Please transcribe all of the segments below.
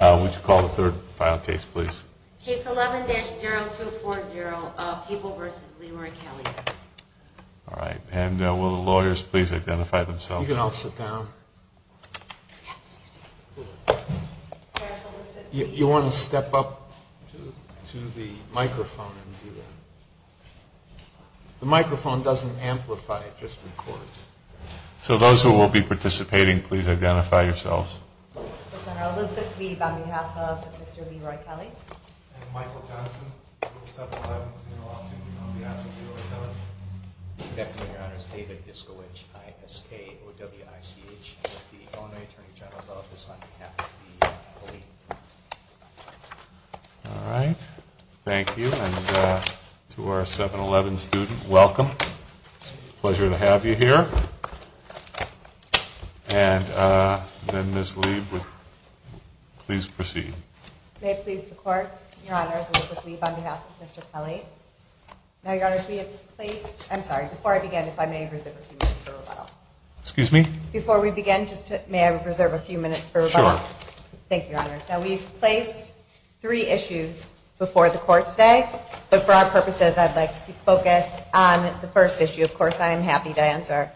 Would you call the third file case please? Case 11-0240, People v. Lee Murray Kelley. All right. And will the lawyers please identify themselves? You can all sit down. You want to step up to the microphone and do that. The microphone doesn't amplify, it just records. So those who will be participating, please identify yourselves. Mr. Senator Elizabeth Leeb on behalf of Mr. Lee Murray Kelley. And Michael Johnson, 7-Eleven Senior Law Student on behalf of Lee Murray Kelley. Good afternoon, Your Honors. David Iskowich, I-S-K-O-W-I-C-H with the Illinois Attorney General's Office on behalf of Lee Murray Kelley. All right. Thank you. And to our 7-Eleven student, welcome. Pleasure to have you here. And then Ms. Leeb, please proceed. May it please the Court, Your Honors, Elizabeth Leeb on behalf of Mr. Kelley. Now, Your Honors, we have placed, I'm sorry, before I begin, if I may reserve a few minutes for rebuttal. Excuse me? Before we begin, may I reserve a few minutes for rebuttal? Sure. Thank you, Your Honors. Now we've placed three issues before the Court today, but for our purposes I'd like to focus on the first issue. Of course, I am happy to answer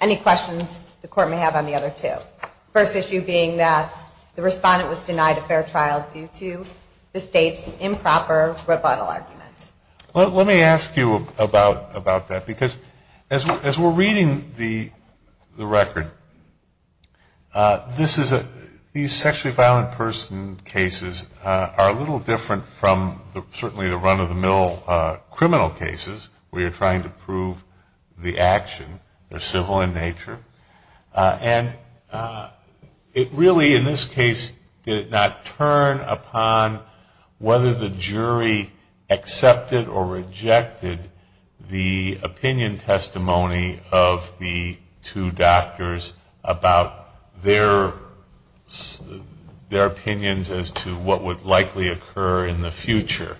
any questions the Court may have on the other two. The first issue being that the respondent was denied a fair trial due to the State's improper rebuttal arguments. Let me ask you about that, because as we're reading the record, these sexually violent person cases are a little different from certainly the run-of-the-mill criminal cases where you're trying to prove the action. They're civil in nature. And it really, in this case, did it not turn upon whether the jury accepted or rejected the opinion testimony of the two doctors about their opinions as to what would likely occur in the future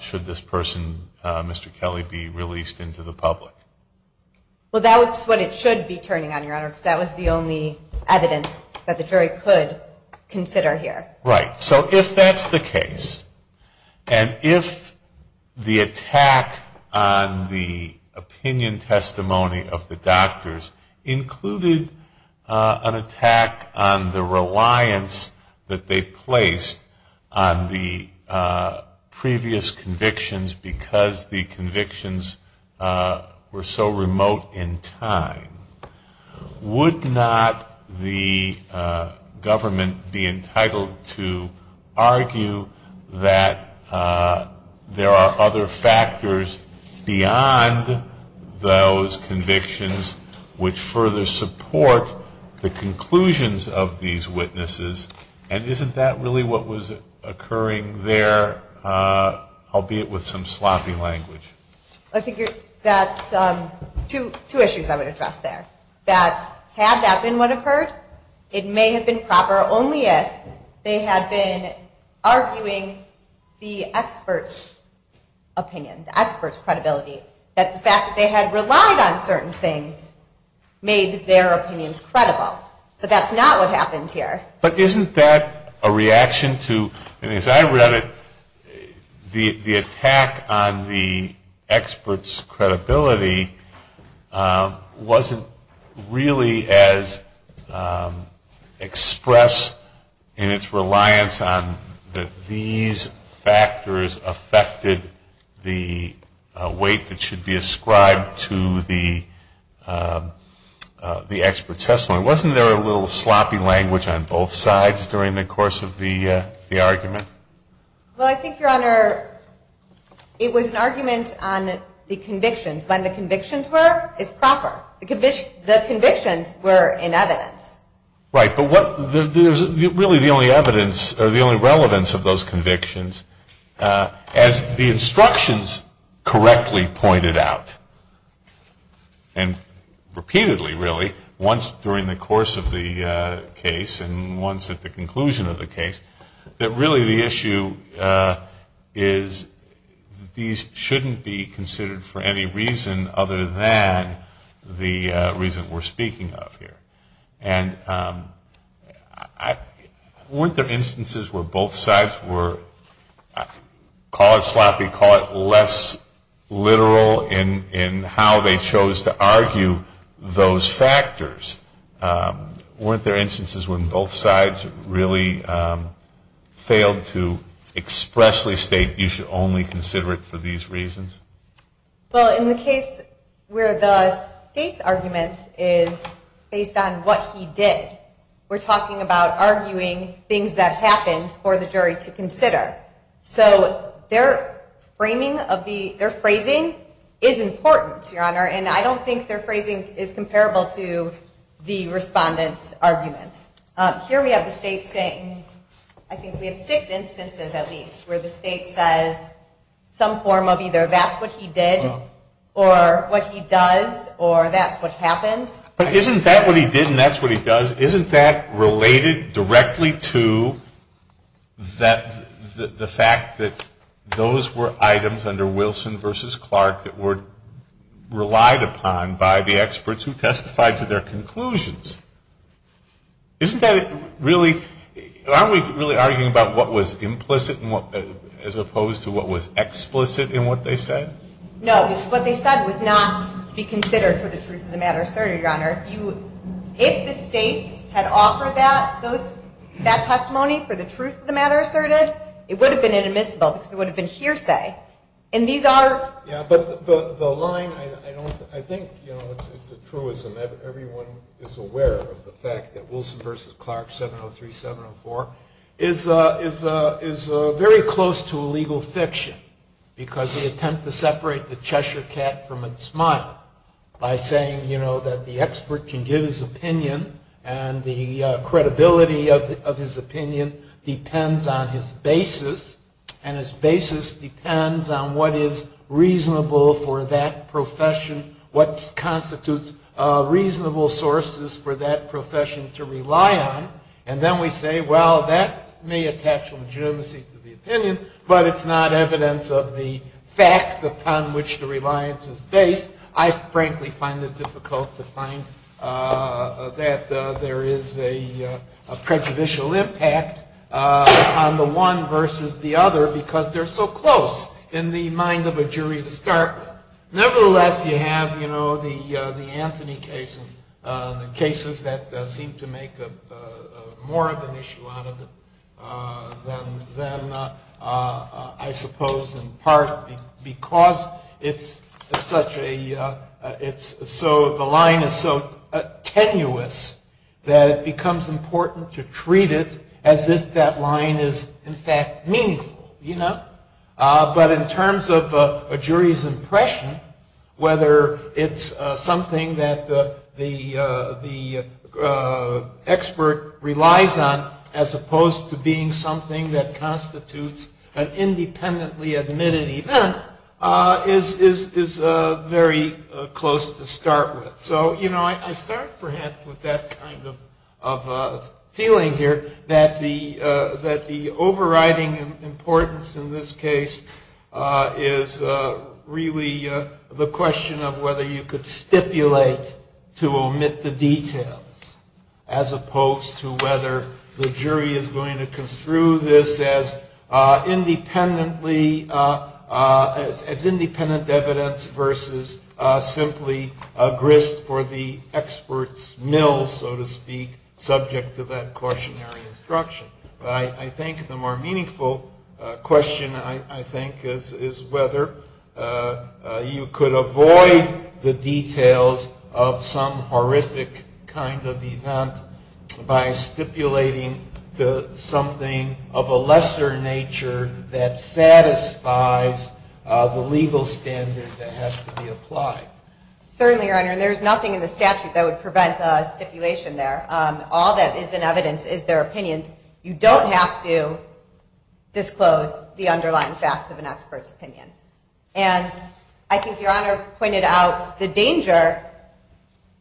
should this person, Mr. Kelley, be released into the public? Well, that's what it should be turning on, Your Honor, because that was the only evidence that the jury could consider here. Right. So if that's the case, and if the attack on the opinion testimony of the doctors included an attack on the reliance that they placed on the previous convictions because the convictions were so remote in time, would not the government be entitled to argue that there are other factors beyond those convictions which further support the conclusions of these witnesses? And isn't that really what was occurring there, albeit with some sloppy language? I think that's two issues I would address there. That had that been what occurred, it may have been proper, only if they had been arguing the expert's opinion, the expert's credibility, that the fact that they had relied on certain things made their opinions credible. But that's not what happened here. But isn't that a reaction to, as I read it, the attack on the expert's credibility wasn't really as expressed in its reliance on that these factors affected the weight that should be ascribed to the expert's testimony. Wasn't there a little sloppy language on both sides during the course of the argument? Well, I think, Your Honor, it was an argument on the convictions. When the convictions were, it's proper. The convictions were in evidence. Right, but what, there's really the only evidence, or the only relevance of those convictions, as the instructions correctly pointed out, and repeatedly really, once during the course of the case and once at the conclusion of the case, that really the issue is these shouldn't be considered for any reason other than the reason we're speaking of here. And weren't there instances where both sides were, call it sloppy, call it less literal in how they chose to argue those factors? Weren't there instances when both sides really failed to expressly state you should only consider it for these reasons? Well, in the case where the state's argument is based on what he did, we're talking about arguing things that happened for the jury to consider. So their phrasing is important, Your Honor, and I don't think their phrasing is comparable to the respondent's arguments. Here we have the state says some form of either that's what he did or what he does or that's what happens. But isn't that what he did and that's what he does, isn't that related directly to the fact that those were items under Wilson v. Clark that were relied upon by the experts who testified to their conclusions? Isn't that really, aren't we really arguing about what was implicit as opposed to what was explicit in what they said? No, what they said was not to be considered for the truth of the matter asserted, Your Honor. If the states had offered that testimony for the truth of the matter asserted, it would have been hearsay. And these are... Yeah, but the line, I think, you know, it's a truism. Everyone is aware of the fact that Wilson v. Clark 703-704 is very close to illegal fiction because the attempt to separate the Cheshire cat from its smile by saying, you know, that the expert can give his opinion and the credibility of his opinion depends on his basis. And his basis depends on what is reasonable for that profession, what constitutes reasonable sources for that profession to rely on. And then we say, well, that may attach legitimacy to the opinion, but it's not evidence of the fact upon which the reliance is based. I frankly find it difficult to find that there is a prejudicial impact on the one versus the other because they're so close in the mind of a jury to start. Nevertheless, you have, you so the line is so tenuous that it becomes important to treat it as if that line is in fact meaningful, you know. But in terms of a jury's impression, whether it's something that the expert relies on as opposed to being something that constitutes an independently admitted event is very close to start with. So, you know, I start kind of feeling here that the overriding importance in this case is really the question of whether you could stipulate to omit the details as opposed to whether the jury is going to construe this as independently, as independent evidence versus simply a grist for the expert's mill, so to speak, subject to that cautionary instruction. But I think the more meaningful question, I think, is whether you could avoid the details of some horrific kind of event by stipulating to something of a lesser nature that satisfies the legal standard that has to be applied. Certainly, Your Honor, there's nothing in the statute that would prevent a stipulation there. All that is in evidence is their opinions. You don't have to disclose the underlying facts of an expert's opinion. And I think Your Honor pointed out the danger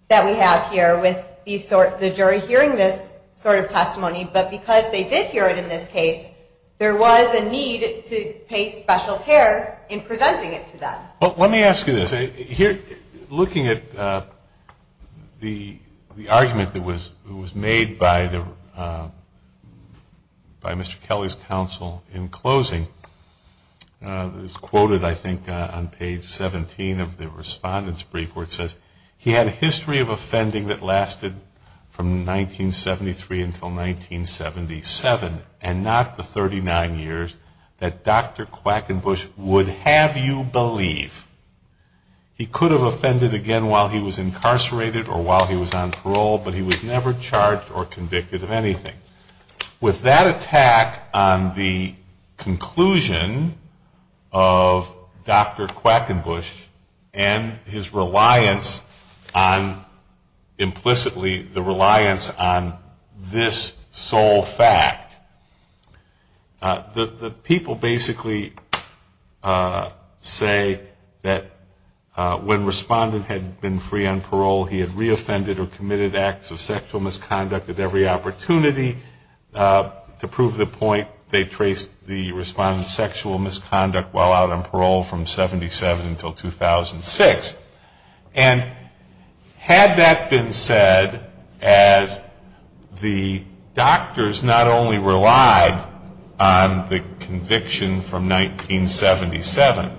that we have here with the jury hearing this sort of testimony, but because they did hear it in this case, there was a need to pay special care in presenting it to them. Well, let me ask you this. Looking at the argument that was made by Mr. Kelly's counsel in closing, it's quoted, I think, on page 17 of the Respondent's Brief where it says, He had a history of offending that lasted from 1973 until 1977 and not the 39 years that Dr. Quackenbush would have you believe. He could have offended again while he was incarcerated or while he was on parole, but he was never charged or convicted of anything. With that attack on the conclusion of Dr. Quackenbush and his reliance on, implicitly, the reliance on this sole fact, the people basically say that when Respondent had been free on parole, he had reoffended or committed acts of sexual misconduct at every opportunity. To prove the point, they traced the Respondent's sexual misconduct while out on parole from 1977 until 2006. And had that been said as the doctors not only relied on the conviction from 1977,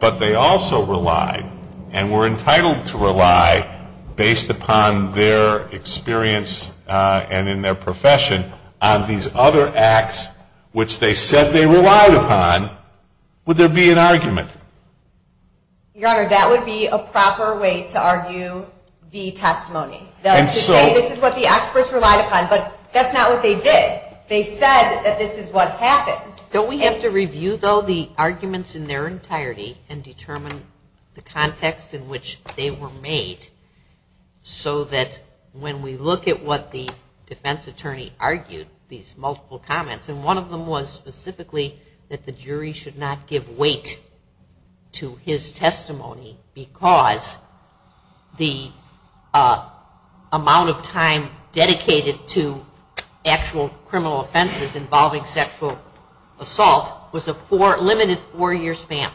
but they also relied and were entitled to rely, based upon their experience and in their profession, on the conviction of Dr. Quackenbush. If they had relied upon Dr. Quackenbush's confession on these other acts which they said they relied upon, would there be an argument? Your Honor, that would be a proper way to argue the testimony. To say this is what the experts relied upon, but that's not what they did. They said that this is what happened. Don't we have to review, though, the arguments in their entirety and determine the context in which they were made, so that when we look at what the defense attorney argued, these multiple comments, and one of them was specifically that the jury should not give weight to his testimony because the amount of time dedicated to actual criminal offenses involving sexual misconduct, assault, was a limited four-year span.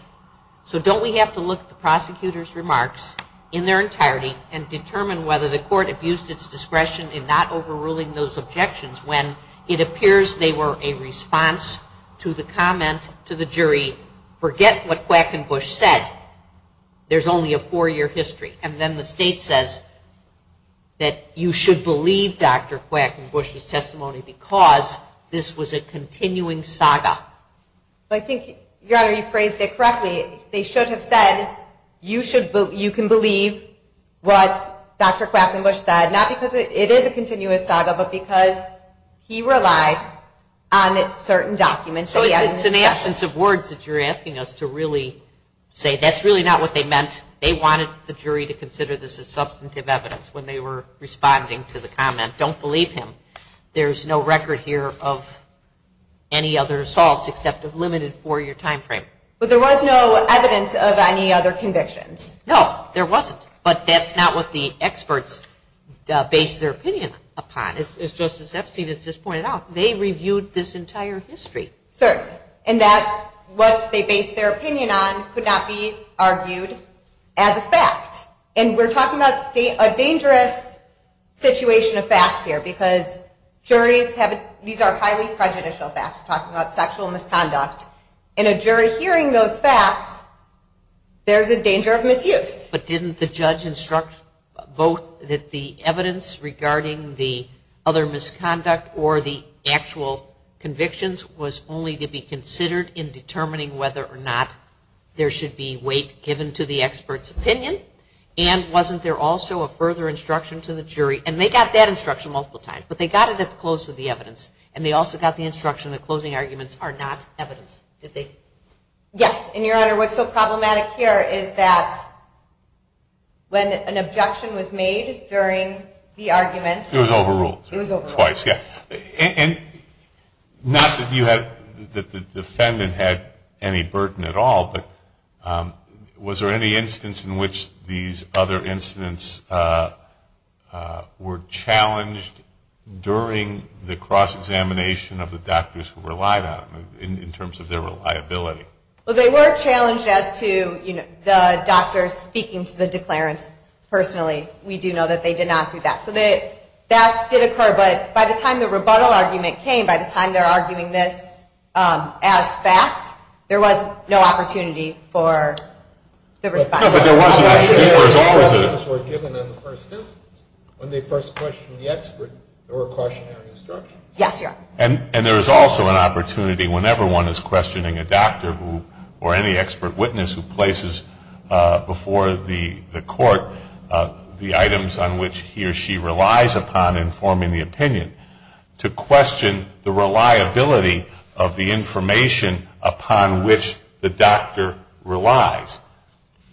So don't we have to look at the prosecutor's remarks in their entirety and determine whether the court abused its discretion in not overruling those objections when it appears they were a response to the comment to the jury, forget what Quackenbush said, there's only a four-year history. And then the state says that you should believe Dr. Quackenbush's testimony because this was a continuing saga. Your Honor, you phrased it correctly. They should have said you can believe what Dr. Quackenbush said, not because it is a continuous saga, but because he relied on certain documents. So it's in the absence of words that you're asking us to really say that's really not what they meant. They wanted the jury to consider this as substantive evidence when they were responding to the comment, don't believe him. There's no record here of any other assaults except a limited four-year time frame. But there was no evidence of any other convictions. No, there wasn't. But that's not what the experts based their opinion upon. As Justice Epstein has just pointed out, they reviewed this entire history. Certainly. And that what they based their opinion on could not be argued as a fact. And we're talking about a dangerous situation of facts here because juries have, these are highly prejudicial facts. We're talking about sexual misconduct. And a jury hearing those facts, there's a danger of misuse. But didn't the judge instruct both that the evidence regarding the other misconduct or the actual convictions was only to be considered in determining whether or not there should be weight given to the expert's opinion? And wasn't there also a further instruction to the jury? And they got that instruction multiple times. But they got it at the close of the evidence. And they also got the instruction that closing arguments are not evidence, did they? Yes. And, Your Honor, what's so problematic here is that when an objection was made during the argument... It was overruled. It was overruled. And not that the defendant had any burden at all, but was there any instance in which these other incidents were challenged during the cross-examination of the doctors who relied on them in terms of their reliability? Well, they were challenged as to, you know, the doctors speaking to the declarants personally. We do know that they did not do that. So that did occur. But by the time the rebuttal argument came, by the time they're arguing this as fact, there was no opportunity for the response. No, but there wasn't. Questions were given in the first instance. When they first questioned the expert, there were cautionary instructions. Yes, Your Honor. And there is also an opportunity, whenever one is questioning a doctor or any expert witness who places before the court the items on which he or she relies upon in forming the opinion, to question the reliability of the information upon which the doctor relies.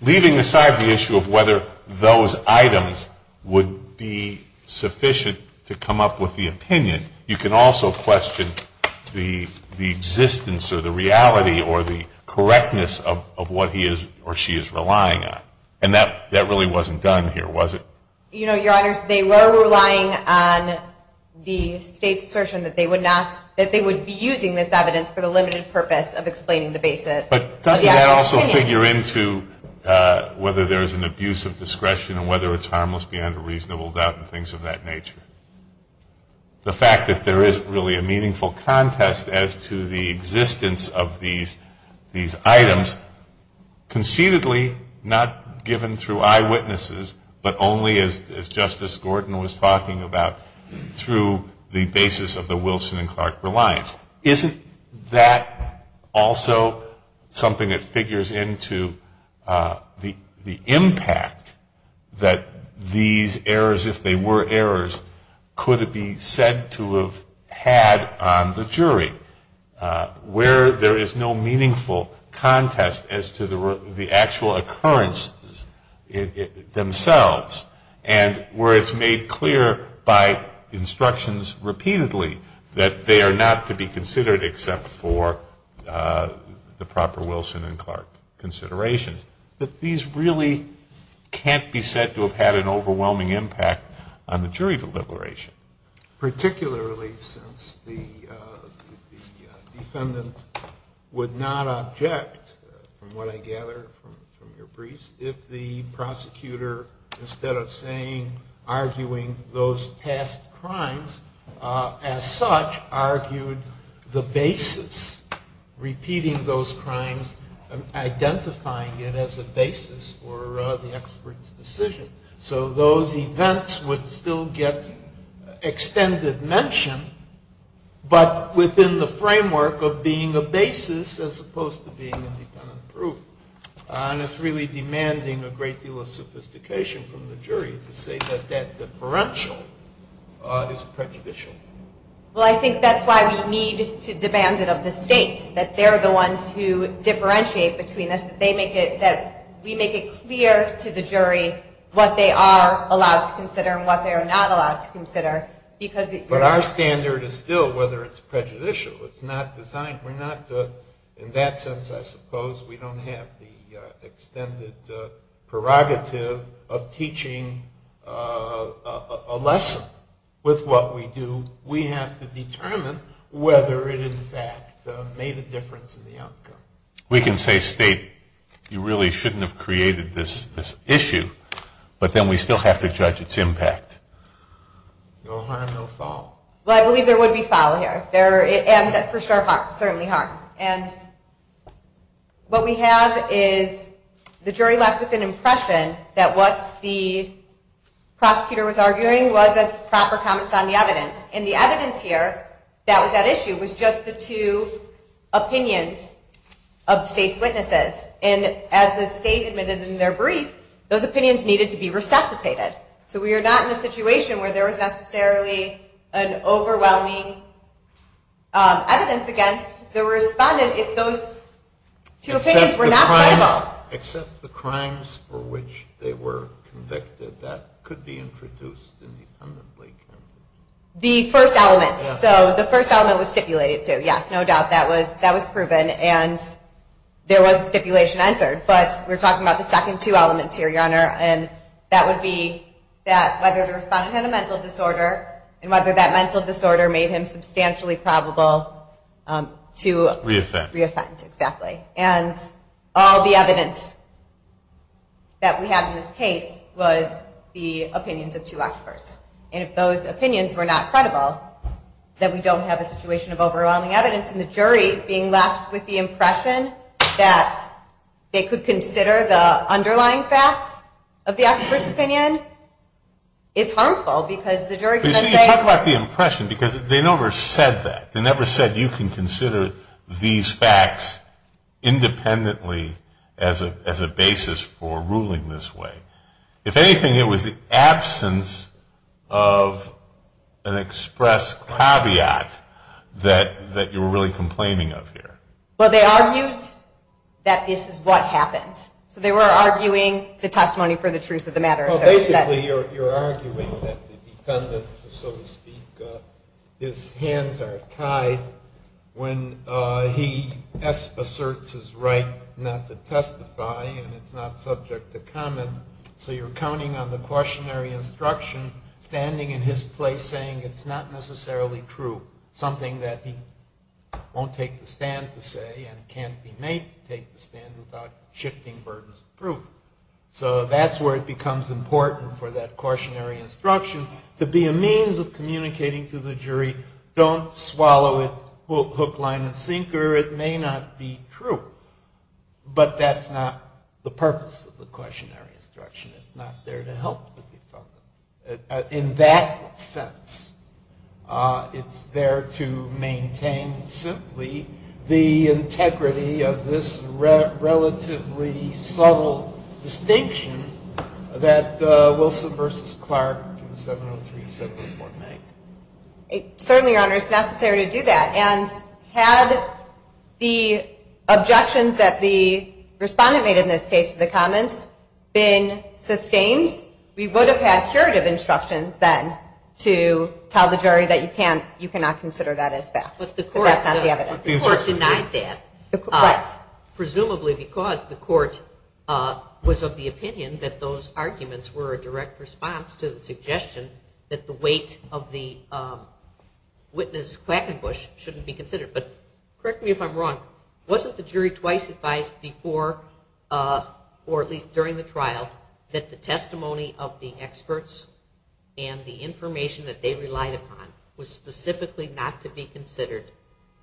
Leaving aside the issue of whether those items would be sufficient to come up with the opinion, you can also question the existence or the reality or the correctness of what he or she is relying on. And that really wasn't done here, was it? You know, Your Honors, they were relying on the state's assertion that they would be using this evidence for the limited purpose of explaining the basis. But doesn't that also figure into whether there is an abuse of discretion and whether it's harmless beyond a reasonable doubt and things of that nature? The fact that there is really a meaningful contest as to the existence of these items, conceitedly not given through eyewitnesses, but only as Justice Gordon was talking about, through the basis of the Wilson and Clark Reliance. Isn't that also something that figures into the impact that these errors, if they were errors, could be said to have had on the jury? Where there is no meaningful contest as to the actual occurrences themselves, and where it's made clear by instructions repeatedly that they are not to be considered except for the proper Wilson and Clark considerations, that these really can't be said to have had an overwhelming impact on the jury deliberation. Particularly since the defendant would not object, from what I gather from your briefs, if the prosecutor, instead of arguing those past crimes, as such argued the basis, repeating those crimes, identifying it as a basis for the expert's decision. So those events would still get extended mention, but within the framework of being a basis as opposed to being independent proof. And it's really demanding a great deal of sophistication from the jury to say that that differential is prejudicial. Well, I think that's why we need to demand it of the states, that they're the ones who differentiate between us, that we make it clear to the jury what they are allowed to consider and what they are not allowed to consider. But our standard is still whether it's prejudicial. It's not designed. We're not, in that sense, I suppose, we don't have the extended prerogative of teaching a lesson with what we do. We have to determine whether it in fact made a difference in the outcome. We can say, state, you really shouldn't have created this issue, but then we still have to judge its impact. No harm, no foul. Well, I believe there would be foul here, and for sure certainly harm. And what we have is the jury left with an impression that what the prosecutor was arguing was a proper comment on the evidence. And the evidence here that was at issue was just the two opinions of the state's witnesses. And as the state admitted in their brief, those opinions needed to be resuscitated. So we are not in a situation where there was necessarily an overwhelming evidence against the respondent if those two opinions were not credible. Except the crimes for which they were convicted, that could be introduced independently. The first element. So the first element was stipulated, too. Yes, no doubt that was proven, and there was stipulation entered. But we're talking about the second two elements here, Your Honor, and that would be that whether the respondent had a mental disorder and whether that mental disorder made him substantially probable to re-offend. And all the evidence that we have in this case was the opinions of two experts. And if those opinions were not credible, then we don't have a situation of overwhelming evidence. And the jury being left with the impression that they could consider the underlying facts of the expert's opinion is harmful because the jury can then say. But you see, you talk about the impression because they never said that. They never said you can consider these facts independently as a basis for ruling this way. If anything, it was the absence of an express caveat that you were really complaining of here. Well, they argued that this is what happened. So they were arguing the testimony for the truth of the matter. Well, basically you're arguing that the defendant, so to speak, his hands are tied when he asserts his right not to testify and it's not subject to comment. So you're counting on the cautionary instruction standing in his place saying it's not necessarily true, something that he won't take the stand to say and can't be made to take the stand without shifting burdens of proof. So that's where it becomes important for that cautionary instruction to be a means of communicating to the jury, don't swallow it hook, line, and sinker. It may not be true, but that's not the purpose of the cautionary instruction. It's not there to help the defendant. In that sense, it's there to maintain simply the integrity of this relatively subtle distinction that Wilson v. Clark in 703 said would make. Certainly, Your Honor, it's necessary to do that. And had the objections that the respondent made in this case to the comments been sustained, we would have had curative instruction then to tell the jury that you cannot consider that as fact. But the court denied that. Presumably because the court was of the opinion that those arguments were a direct response to the suggestion that the weight of the witness Quackenbush shouldn't be considered. But correct me if I'm wrong. Wasn't the jury twice advised before or at least during the trial that the testimony of the experts and the information that they relied upon was specifically not to be considered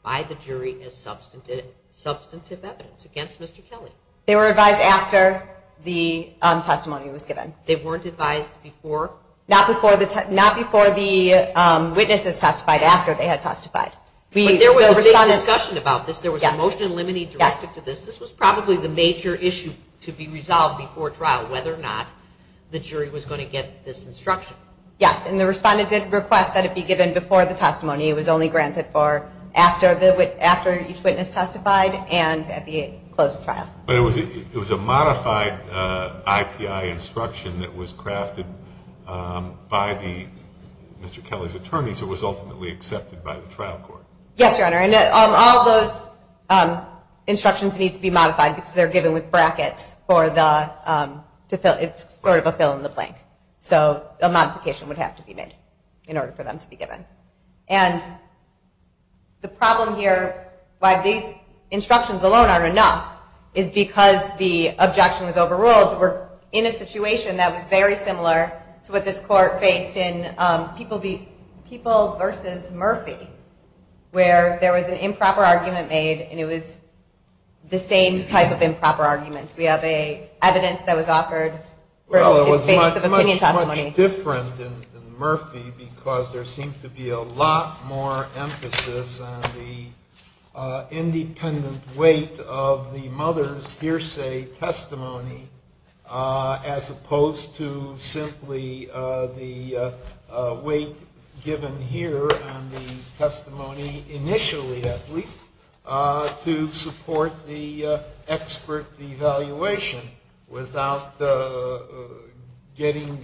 by the jury as substantive evidence against Mr. Kelly? They were advised after the testimony was given. They weren't advised before? Not before the witnesses testified, after they had testified. But there was a big discussion about this. There was a motion in limine directed to this. This was probably the major issue to be resolved before trial, whether or not the jury was going to get this instruction. Yes, and the respondent did request that it be given before the testimony. It was only granted for after each witness testified and at the close of trial. But it was a modified IPI instruction that was crafted by Mr. Kelly's attorneys. It was ultimately accepted by the trial court. Yes, Your Honor, and all those instructions need to be modified because they're given with brackets. It's sort of a fill in the blank. So a modification would have to be made in order for them to be given. And the problem here, why these instructions alone aren't enough, is because the objection was overruled. We're in a situation that was very similar to what this court faced in People v. Murphy, where there was an improper argument made, and it was the same type of improper argument. We have evidence that was offered for its basis of opinion testimony. It's a little different in Murphy because there seemed to be a lot more emphasis on the independent weight of the mother's hearsay testimony, as opposed to simply the weight given here on the testimony initially, at least, to support the expert evaluation without getting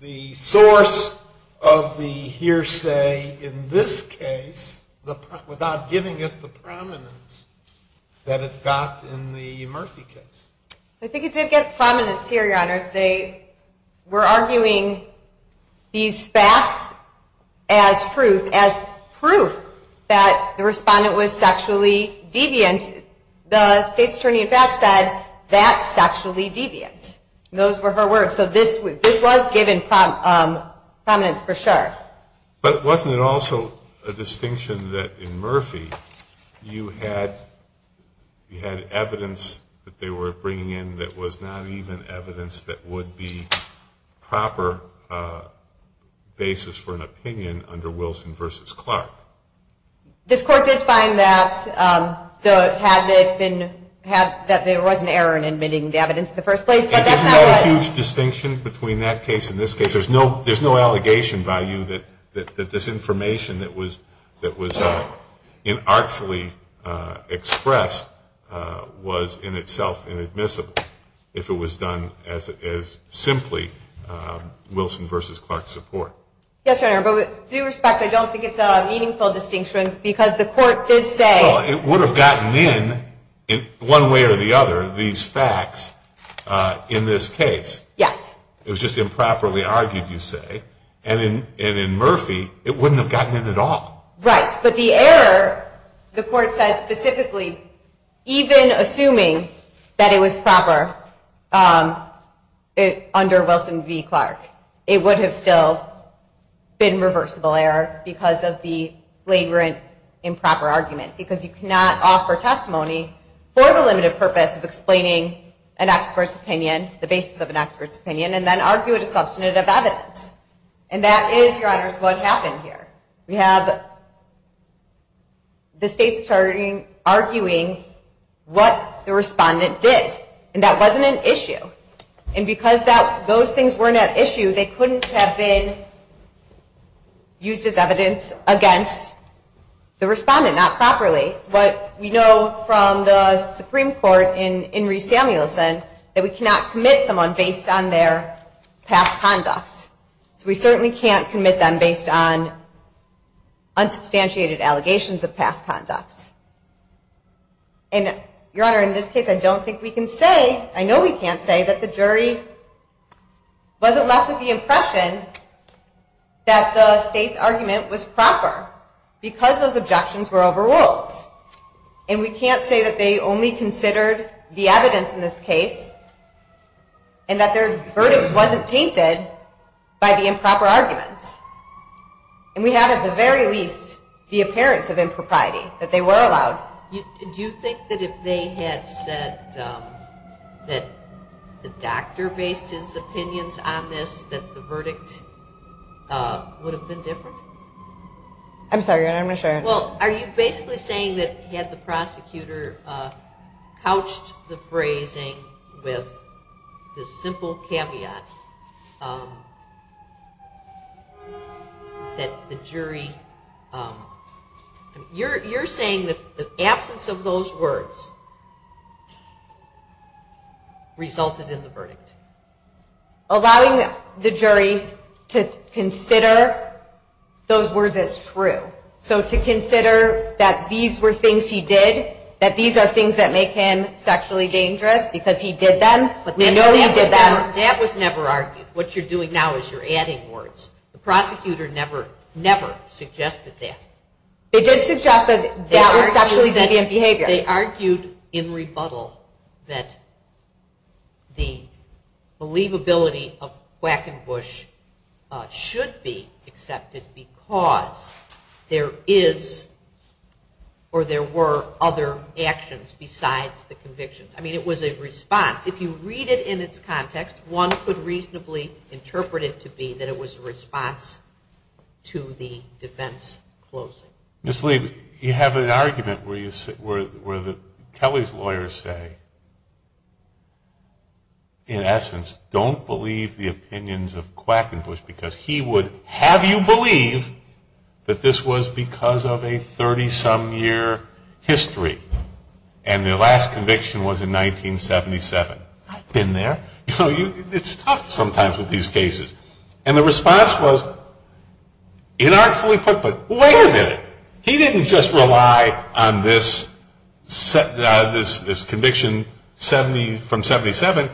the source of the hearsay in this case, without giving it the prominence that it got in the Murphy case. I think it did get prominence here, Your Honors. They were arguing these facts as proof that the respondent was sexually deviant. The state's attorney, in fact, said, that's sexually deviant. Those were her words. So this was given prominence for sure. But wasn't it also a distinction that in Murphy you had evidence that they were bringing in that was not even evidence that would be proper basis for an opinion under Wilson v. Clark? This court did find that there was an error in admitting the evidence in the first place. But that's not a huge distinction between that case and this case. There's no allegation by you that this information that was inartfully expressed was in itself inadmissible if it was done as simply Wilson v. Clark support. Yes, Your Honor. But with due respect, I don't think it's a meaningful distinction because the court did say- Well, it would have gotten in, one way or the other, these facts in this case. Yes. It was just improperly argued, you say. And in Murphy, it wouldn't have gotten in at all. Right. But the error, the court says specifically, even assuming that it was proper under Wilson v. Clark, it would have still been reversible error because of the flagrant improper argument. Because you cannot offer testimony for the limited purpose of explaining an expert's opinion, the basis of an expert's opinion, and then argue it as substantive evidence. And that is, Your Honors, what happened here. We have the states arguing what the respondent did. And that wasn't an issue. And because those things weren't at issue, they couldn't have been used as evidence against the respondent. Not properly. But we know from the Supreme Court in Reese-Samuelson that we cannot commit someone based on their past conducts. So we certainly can't commit them based on unsubstantiated allegations of past conducts. And, Your Honor, in this case, I don't think we can say- I know we can't say that the jury wasn't left with the impression that the state's argument was proper because those objections were overruled. And we can't say that they only considered the evidence in this case and that their verdict wasn't tainted by the improper argument. And we have, at the very least, the appearance of impropriety, that they were allowed- Do you think that if they had said that the doctor based his opinions on this, that the verdict would have been different? I'm sorry, Your Honor. I'm going to share it. Well, are you basically saying that had the prosecutor couched the phrasing with the simple caveat that the jury- You're saying that the absence of those words resulted in the verdict. Allowing the jury to consider those words as true. So to consider that these were things he did, that these are things that make him sexually dangerous because he did them, but they know he did them- That was never argued. What you're doing now is you're adding words. The prosecutor never, never suggested that. They did suggest that that was sexually deviant behavior. They argued in rebuttal that the believability of Quackenbush should be accepted because there is or there were other actions besides the convictions. I mean, it was a response. If you read it in its context, one could reasonably interpret it to be that it was a response to the defense closing. Ms. Lee, you have an argument where Kelly's lawyers say, in essence, don't believe the opinions of Quackenbush because he would have you believe that this was because of a 30-some year history and their last conviction was in 1977. I've been there. It's tough sometimes with these cases. And the response was, inartfully put, but wait a minute. He didn't just rely on this conviction from 77.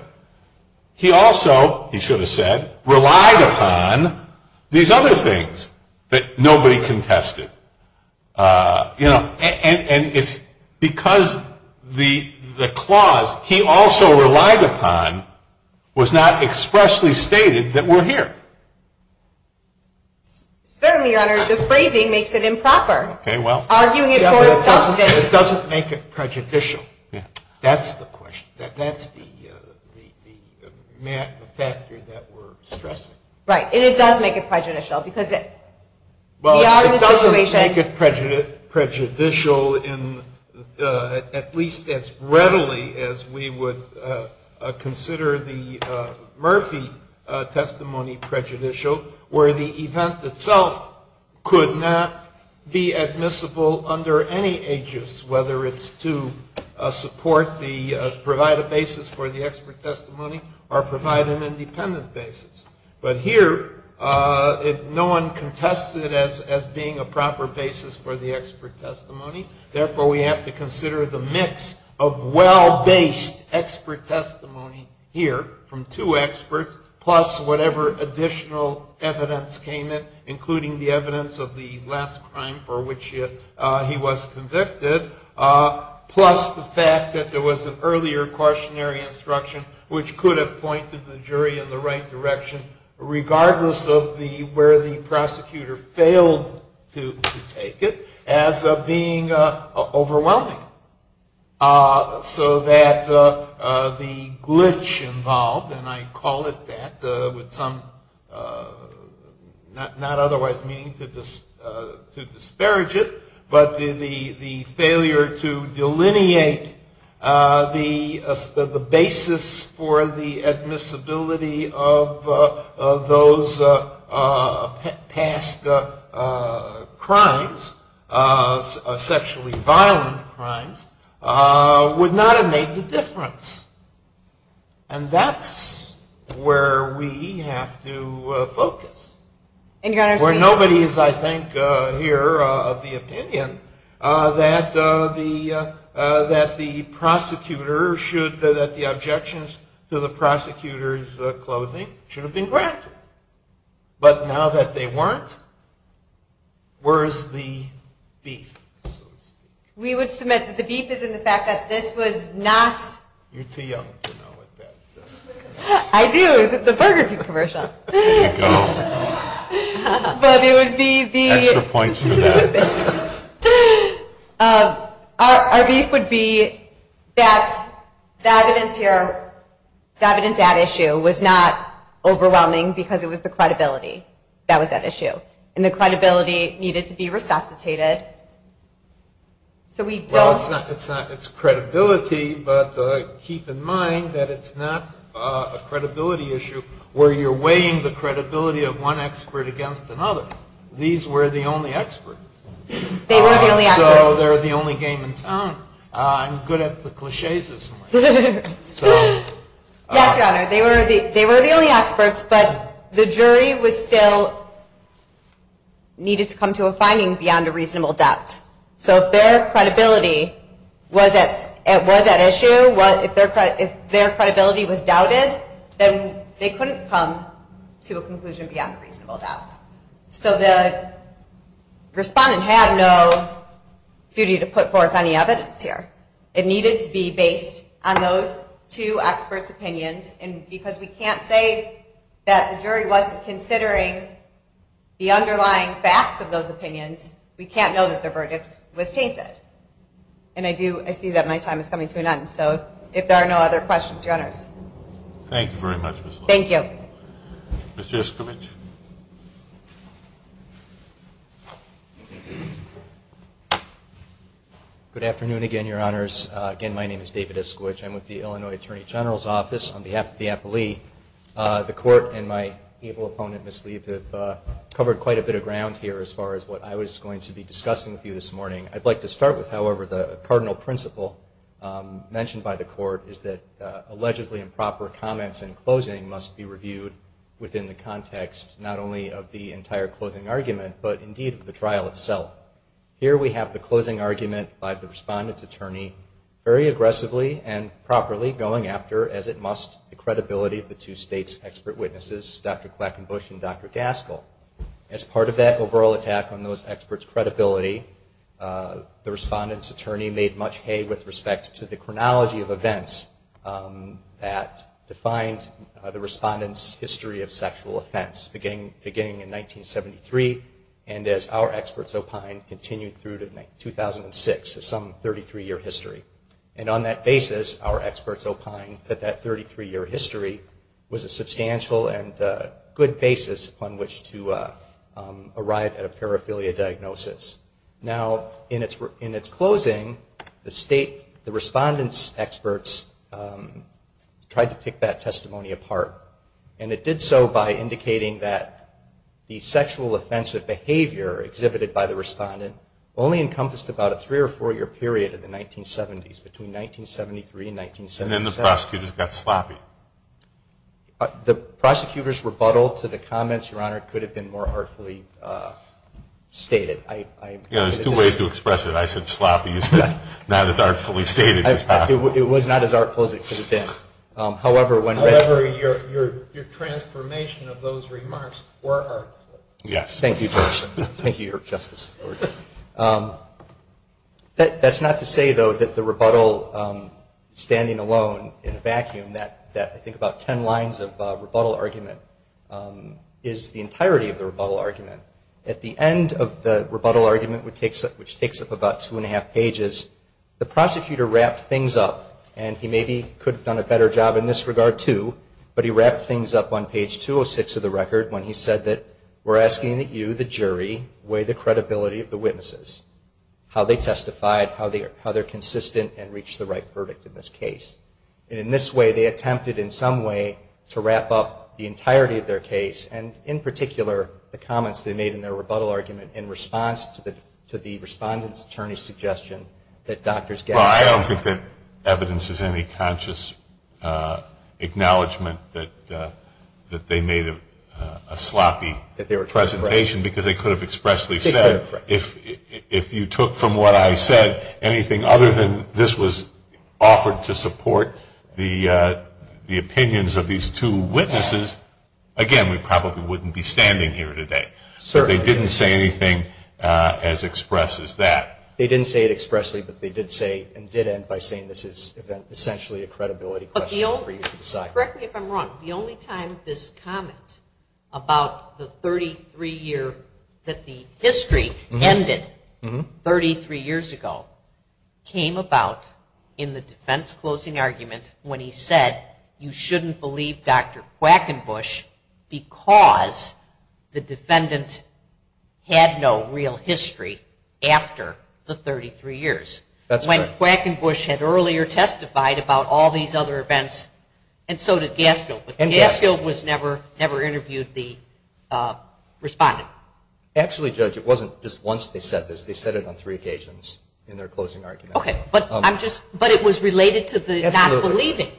He also, he should have said, relied upon these other things that nobody contested. And it's because the clause he also relied upon was not expressly stated that we're here. Certainly, Your Honor. The phrasing makes it improper. Okay, well. Arguing it for its substance. It doesn't make it prejudicial. That's the question. That's the factor that we're stressing. Right. And it does make it prejudicial. Well, it doesn't make it prejudicial in at least as readily as we would consider the Murphy testimony prejudicial, where the event itself could not be admissible under any aegis, whether it's to provide a basis for the expert testimony or provide an independent basis. But here, no one contested it as being a proper basis for the expert testimony. Therefore, we have to consider the mix of well-based expert testimony here from two experts, plus whatever additional evidence came in, including the evidence of the last crime for which he was convicted, plus the fact that there was an earlier cautionary instruction, which could have pointed the jury in the right direction, regardless of where the prosecutor failed to take it, as being overwhelming. So that the glitch involved, and I call it that with some not otherwise meaning to disparage it, but the failure to delineate the basis for the admissibility of those past crimes, sexually violent crimes, would not have made the difference. And that's where we have to focus. Where nobody is, I think, here of the opinion that the prosecutor should, that the objections to the prosecutor's closing should have been granted. But now that they weren't, where is the beef, so to speak? We would submit that the beef is in the fact that this was not. You're too young to know what that is. I do, it's at the Burger King commercial. There you go. But it would be the. Extra points for that. Our beef would be that the evidence here, the evidence at issue, was not overwhelming because it was the credibility that was at issue. And the credibility needed to be resuscitated. So we don't. Well, it's credibility, but keep in mind that it's not a credibility issue where you're weighing the credibility of one expert against another. These were the only experts. They were the only experts. So they're the only game in town. I'm good at the cliches. Yes, Your Honor. They were the only experts, but the jury still needed to come to a finding beyond a reasonable doubt. So if their credibility was at issue, if their credibility was doubted, then they couldn't come to a conclusion beyond reasonable doubts. So the respondent had no duty to put forth any evidence here. It needed to be based on those two experts' opinions. And because we can't say that the jury wasn't considering the underlying facts of those opinions, we can't know that their verdict was tainted. And I do see that my time is coming to an end. So if there are no other questions, Your Honors. Thank you very much, Ms. Lewis. Thank you. Mr. Iskowitz. Good afternoon again, Your Honors. Again, my name is David Iskowitz. I'm with the Illinois Attorney General's Office. On behalf of the appellee, the Court and my able opponent, Ms. Leib, have covered quite a bit of ground here as far as what I was going to be discussing with you this morning. I'd like to start with, however, the cardinal principle mentioned by the Court is that allegedly improper comments in closing must be reviewed within the context not only of the entire closing argument, but indeed of the trial itself. Here we have the closing argument by the Respondent's attorney very aggressively and properly going after, as it must, the credibility of the two states' expert witnesses, Dr. Clackenbush and Dr. Gaskell. As part of that overall attack on those experts' credibility, the Respondent's attorney made much hay with respect to the chronology of events that defined the Respondent's history of sexual offense beginning in 1973. And as our experts opine, continued through to 2006, some 33-year history. And on that basis, our experts opine that that 33-year history was a substantial and good basis upon which to arrive at a paraphilia diagnosis. Now, in its closing, the State, the Respondent's experts tried to pick that testimony apart. And it did so by indicating that the sexual offensive behavior exhibited by the Respondent only encompassed about a three- or four-year period in the 1970s, between 1973 and 1977. And then the prosecutors got sloppy. The prosecutors' rebuttal to the comments, Your Honor, could have been more artfully stated. You know, there's two ways to express it. I said sloppy. You said not as artfully stated as possible. It was not as artful as it could have been. However, your transformation of those remarks were artful. Yes. Thank you, Your Honor. Thank you, Your Justice. That's not to say, though, that the rebuttal standing alone in a vacuum, that I think about ten lines of rebuttal argument, is the entirety of the rebuttal argument. At the end of the rebuttal argument, which takes up about two-and-a-half pages, the prosecutor wrapped things up. And he maybe could have done a better job in this regard, too, but he wrapped things up on page 206 of the record when he said that, we're asking that you, the jury, weigh the credibility of the witnesses, how they testified, how they're consistent, and reach the right verdict in this case. And in this way, they attempted in some way to wrap up the entirety of their case, and in particular, the comments they made in their rebuttal argument in response to the respondent's attorney's suggestion that doctors get a Well, I don't think that evidence is any conscious acknowledgement that they made a sloppy presentation because they could have expressly said, if you took from what I said anything other than this was offered to support the opinions of these two witnesses, again, we probably wouldn't be standing here today. But they didn't say anything as express as that. They didn't say it expressly, but they did say and did end by saying this is essentially a credibility question for you to decide. Correct me if I'm wrong. The only time this comment about the 33-year, that the history ended 33 years ago, came about in the defense closing argument when he said, you shouldn't believe Dr. Quackenbush because the defendant had no real history after the 33 years. That's right. When Quackenbush had earlier testified about all these other events, and so did Gaskill. And Gaskill. But Gaskill was never interviewed the respondent. Actually, Judge, it wasn't just once they said this. They said it on three occasions in their closing argument. Okay. But it was related to the not believing.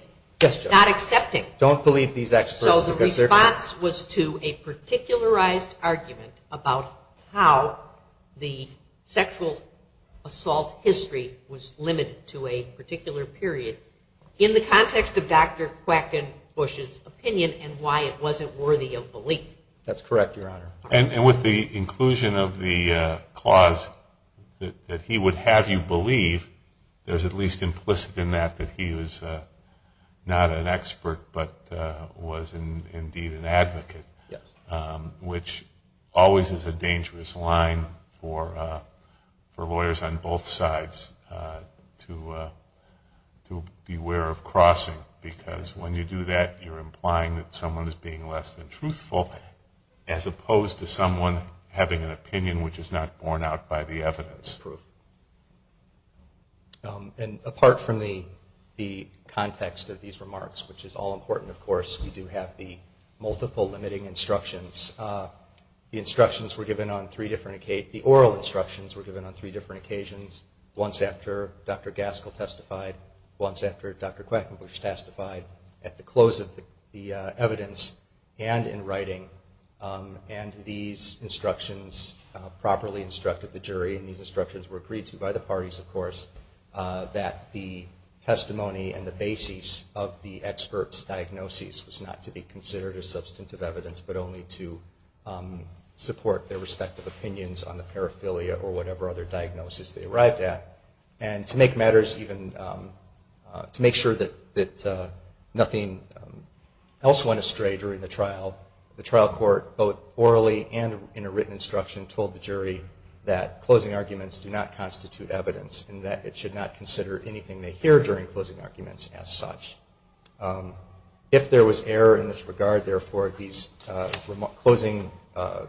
Yes, Judge. Not accepting. Don't believe these experts. So the response was to a particularized argument about how the sexual assault history was limited to a particular period in the context of Dr. Quackenbush's opinion and why it wasn't worthy of belief. That's correct, Your Honor. And with the inclusion of the clause that he would have you believe, there's at least implicit in that that he was not an expert but was indeed an advocate. Yes. Which always is a dangerous line for lawyers on both sides to beware of crossing because when you do that you're implying that someone is being less than truthful as opposed to someone having an opinion which is not borne out by the evidence. That's proof. And apart from the context of these remarks, which is all important, of course, we do have the multiple limiting instructions. The instructions were given on three different occasions. The oral instructions were given on three different occasions, once after Dr. Gaskell testified, once after Dr. Quackenbush testified at the close of the evidence and in writing. And these instructions properly instructed the jury and these instructions were agreed to by the parties, of course, that the testimony and the basis of the expert's diagnosis was not to be considered as substantive evidence but only to support their respective opinions on the paraphilia or whatever other diagnosis they arrived at and to make matters even, to make sure that nothing else went astray during the trial. The trial court, both orally and in a written instruction, told the jury that closing arguments do not constitute evidence and that it should not consider anything they hear during closing arguments as such. If there was error in this regard, therefore, these closing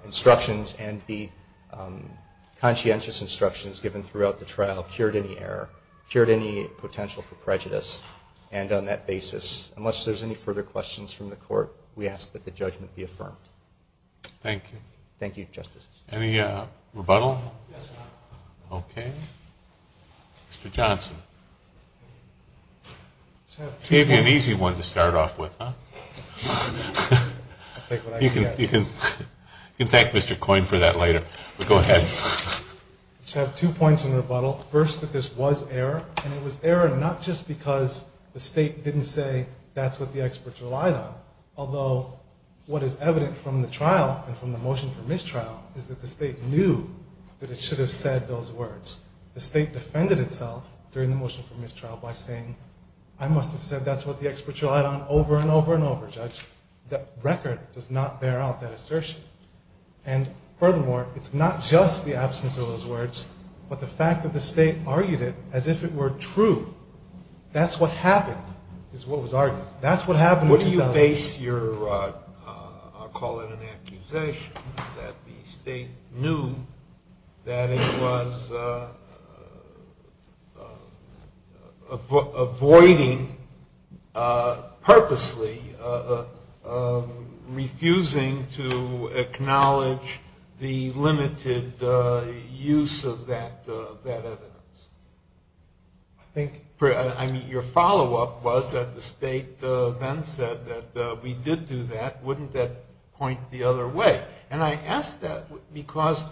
instructions and the conscientious instructions given throughout the trial cured any error, cured any potential for prejudice. And on that basis, unless there's any further questions from the court, we ask that the judgment be affirmed. Thank you. Thank you, Justice. Any rebuttal? Yes, Your Honor. Okay. Mr. Johnson. I just have two points. Gave you an easy one to start off with, huh? I'll take what I get. You can thank Mr. Coyne for that later, but go ahead. I just have two points in rebuttal. First, that this was error and it was error not just because the State didn't say that's what the experts relied on, although what is evident from the trial and from the motion for mistrial is that the State knew that it should have said those words. The State defended itself during the motion for mistrial by saying, I must have said that's what the experts relied on over and over and over, Judge. That record does not bear out that assertion. And furthermore, it's not just the absence of those words, but the fact that the State argued it as if it were true. That's what happened is what was argued. That's what happened in 2000. What do you base your, I'll call it an accusation, that the State knew that it was avoiding purposely, refusing to acknowledge the limited use of that evidence? I mean, your follow-up was that the State then said that we did do that. Wouldn't that point the other way? And I ask that because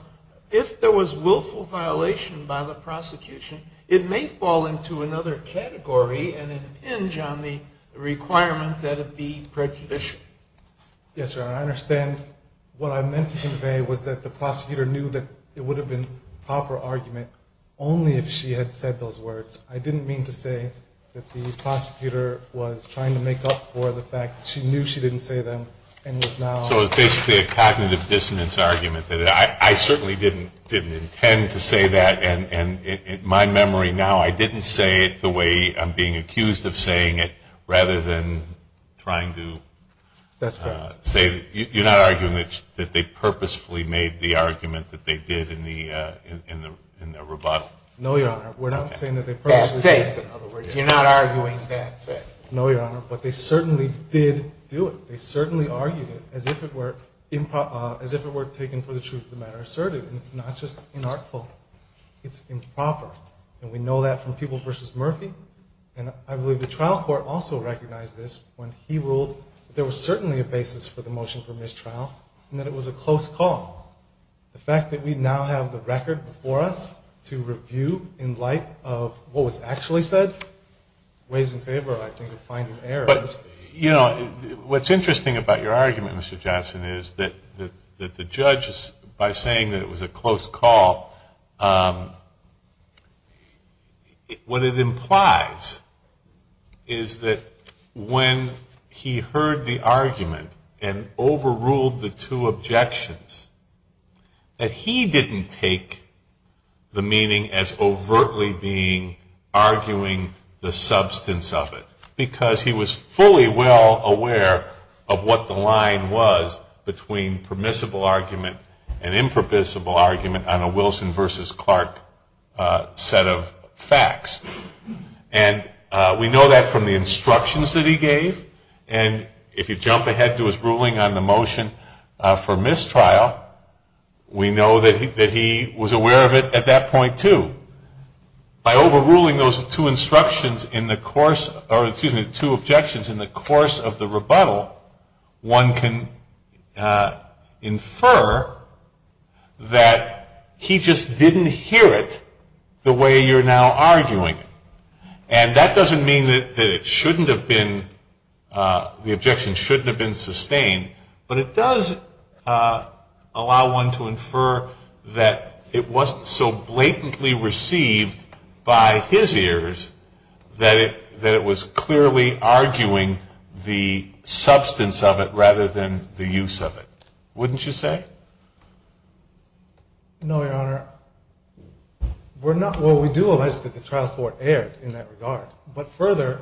if there was willful violation by the prosecution, it may fall into another category and an inch on the requirement that it be prejudicial. Yes, sir. I understand what I meant to convey was that the prosecutor knew that it would have been proper argument only if she had said those words. I didn't mean to say that the prosecutor was trying to make up for the fact that she knew she didn't say them. So it's basically a cognitive dissonance argument. I certainly didn't intend to say that, and in my memory now, I didn't say it the way I'm being accused of saying it rather than trying to say that. You're not arguing that they purposefully made the argument that they did in the rebuttal? No, Your Honor. We're not saying that they purposefully did. Bad faith, in other words. You're not arguing bad faith. No, Your Honor, but they certainly did do it. They certainly argued it as if it were taken for the truth of the matter asserted, and it's not just inartful. It's improper, and we know that from People v. Murphy, and I believe the trial court also recognized this when he ruled that there was certainly a basis for the motion for mistrial, and that it was a close call. The fact that we now have the record before us to review in light of what was actually said, weighs in favor, I think, of finding error in this case. You know, what's interesting about your argument, Mr. Johnson, is that the judge, by saying that it was a close call, what it implies is that when he heard the argument and overruled the two objections, that he didn't take the meaning as overtly being arguing the substance of it, because he was fully well aware of what the line was between permissible argument and impermissible argument on a Wilson v. Clark set of facts. And we know that from the instructions that he gave, and if you jump ahead to his ruling on the motion for mistrial, we know that he was aware of it at that point, too. By overruling those two instructions in the course, or excuse me, the two objections in the course of the rebuttal, one can infer that he just didn't hear it the way you're now arguing. And that doesn't mean that it shouldn't have been, the objection shouldn't have been sustained, but it does allow one to infer that it wasn't so blatantly received by his ears that it was clearly arguing the substance of it rather than the use of it. Wouldn't you say? No, Your Honor. Well, we do allege that the trial court erred in that regard, but further,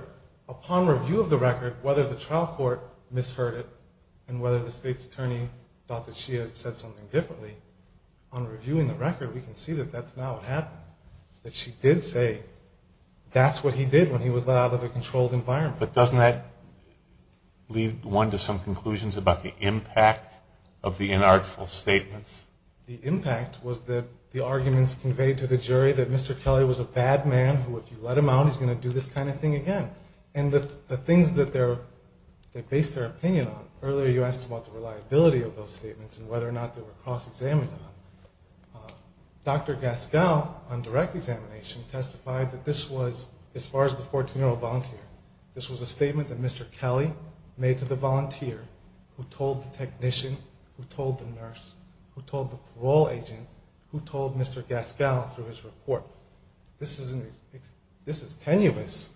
upon review of the record, whether the trial court misheard it and whether the State's attorney thought that she had said something differently, on reviewing the record, we can see that that's not what happened, that she did say that's what he did when he was let out of the controlled environment. But doesn't that lead one to some conclusions about the impact of the inartful statements? The impact was that the arguments conveyed to the jury that Mr. Kelly was a bad man who if you let him out he's going to do this kind of thing again. And the things that they based their opinion on, earlier you asked about the reliability of those statements and whether or not they were cross-examined on. Dr. Gaskell, on direct examination, testified that this was, as far as the 14-year-old volunteer, this was a statement that Mr. Kelly made to the volunteer who told the technician, who told the nurse, who told the parole agent, who told Mr. Gaskell through his report. This is tenuous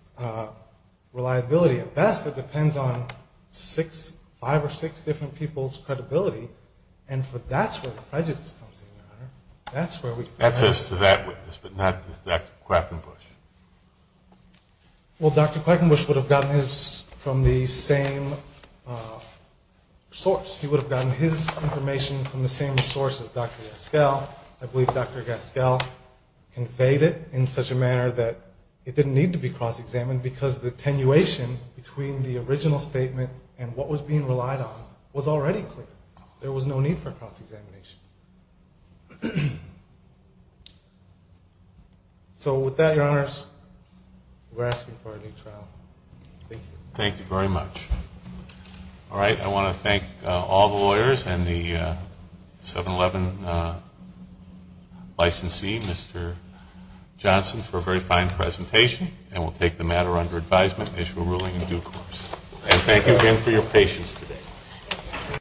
reliability. At best, it depends on five or six different people's credibility, and that's where the prejudice comes in, Your Honor. That says to that witness, but not to Dr. Quackenbush. Well, Dr. Quackenbush would have gotten his from the same source. He would have gotten his information from the same source as Dr. Gaskell. I believe Dr. Gaskell conveyed it in such a manner that it didn't need to be cross-examined because the attenuation between the original statement and what was being relied on was already clear. There was no need for cross-examination. So with that, Your Honors, we're asking for a new trial. Thank you. Thank you very much. All right, I want to thank all the lawyers and the 7-Eleven licensee, Mr. Johnson, for a very fine presentation, and we'll take the matter under advisement and issue a ruling in due course. And thank you again for your patience today.